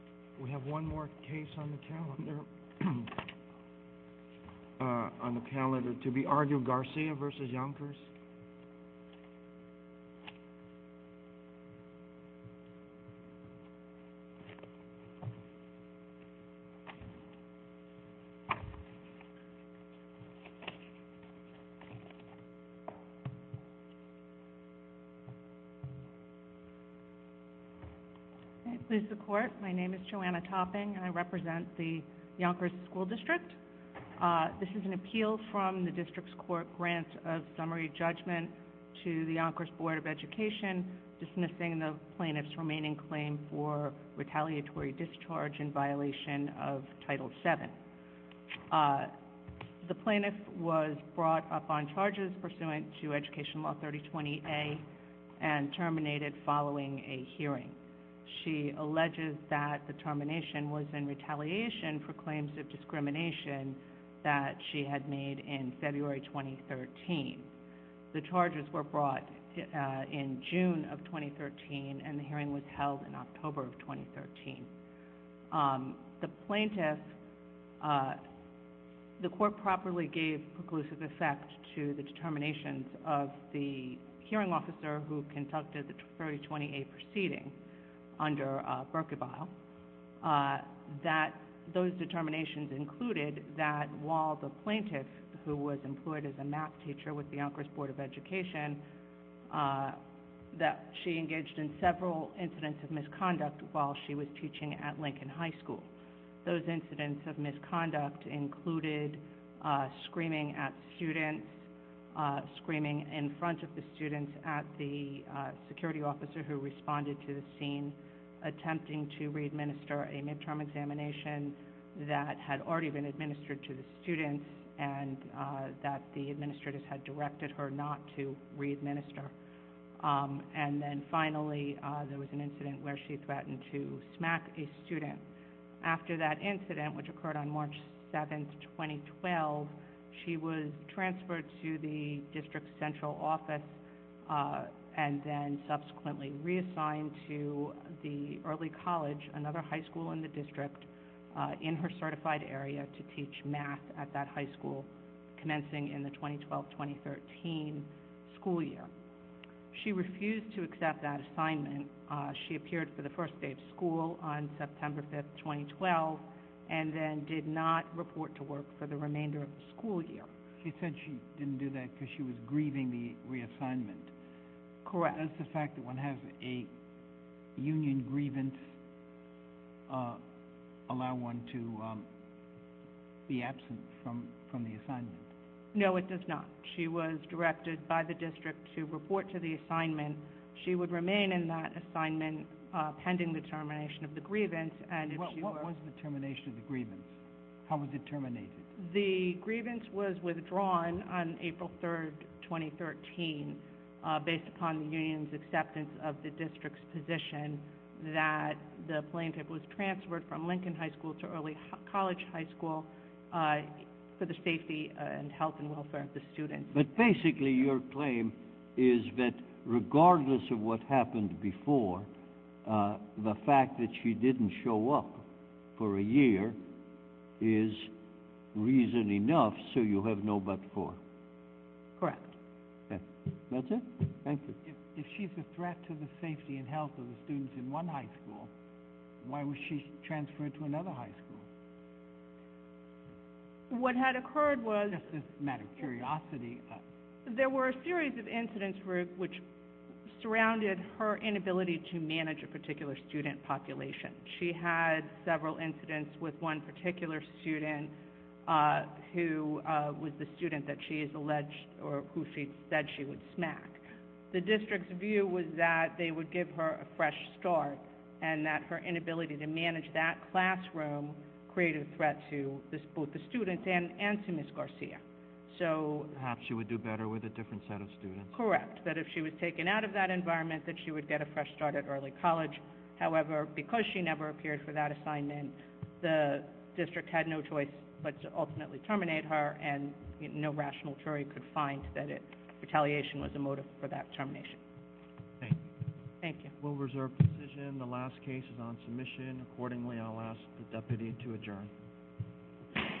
We have one more case on the calendar. On the calendar to be argued, Garcia v. Yonkers. Please support my name is Joanna topping I represent the Yonkers school district. This is an appeal from the district's court grant of summary judgment to the Yonkers Board of Education, dismissing the plaintiff's remaining claim for retaliatory discharge in violation of Title VII. The plaintiff was brought up on charges pursuant to Education Law 3020A and terminated following a hearing. She alleges that the termination was in retaliation for claims of discrimination that she had made in February 2013. The charges were brought in June of 2013 and the hearing was held in October of 2013. The plaintiff, the court properly gave preclusive effect to the determinations of the hearing officer who conducted the 3020A proceeding under Berkevile. That those determinations included that while the plaintiff, who was employed as a math teacher with the Yonkers Board of Education, that she engaged in several incidents of misconduct while she was teaching at Lincoln High School. Those incidents of misconduct included screaming at students, screaming in front of the students at the security officer who responded to the scene, attempting to readminister a midterm examination that had already been administered to the students and that the administrators had directed her not to readminister. And then finally, there was an incident where she threatened to smack a student. After that incident, which occurred on March 7, 2012, she was transferred to the district central office and then subsequently reassigned to the Early College, another high school in the district, in her certified area to teach math at that high school, commencing in the 2012-2013 school year. She refused to accept that assignment. She appeared for the first day of school on September 5, 2012, and then did not report to work for the remainder of the school year. She said she didn't do that because she was grieving the reassignment. Correct. Does the fact that one has a union grievance allow one to be absent from the assignment? No, it does not. She was directed by the district to report to the assignment. She would remain in that assignment pending the termination of the grievance. What was the termination of the grievance? How was it terminated? The grievance was withdrawn on April 3, 2013, based upon the union's acceptance of the district's position that the plaintiff was transferred from Lincoln High School to Early College High School for the safety and health and welfare of the student. But basically your claim is that regardless of what happened before, the fact that she didn't show up for a year is reason enough so you have no but for. Correct. That's it. Thank you. If she's a threat to the safety and health of the students in one high school, why was she transferred to another high school? What had occurred was... Just as a matter of curiosity... There were a series of incidents which surrounded her inability to manage a particular student population. She had several incidents with one particular student who was the student that she has alleged or who she said she would smack. The district's view was that they would give her a fresh start and that her inability to manage that classroom created a threat to both the students and to Ms. Garcia. Perhaps she would do better with a different set of students. Correct. That if she was taken out of that environment that she would get a fresh start at Early College. However, because she never appeared for that assignment, the district had no choice but to ultimately terminate her and no rational jury could find that retaliation was a motive for that termination. Thank you. We'll reserve the decision. The last case is on submission. Accordingly, I'll ask the deputy to adjourn.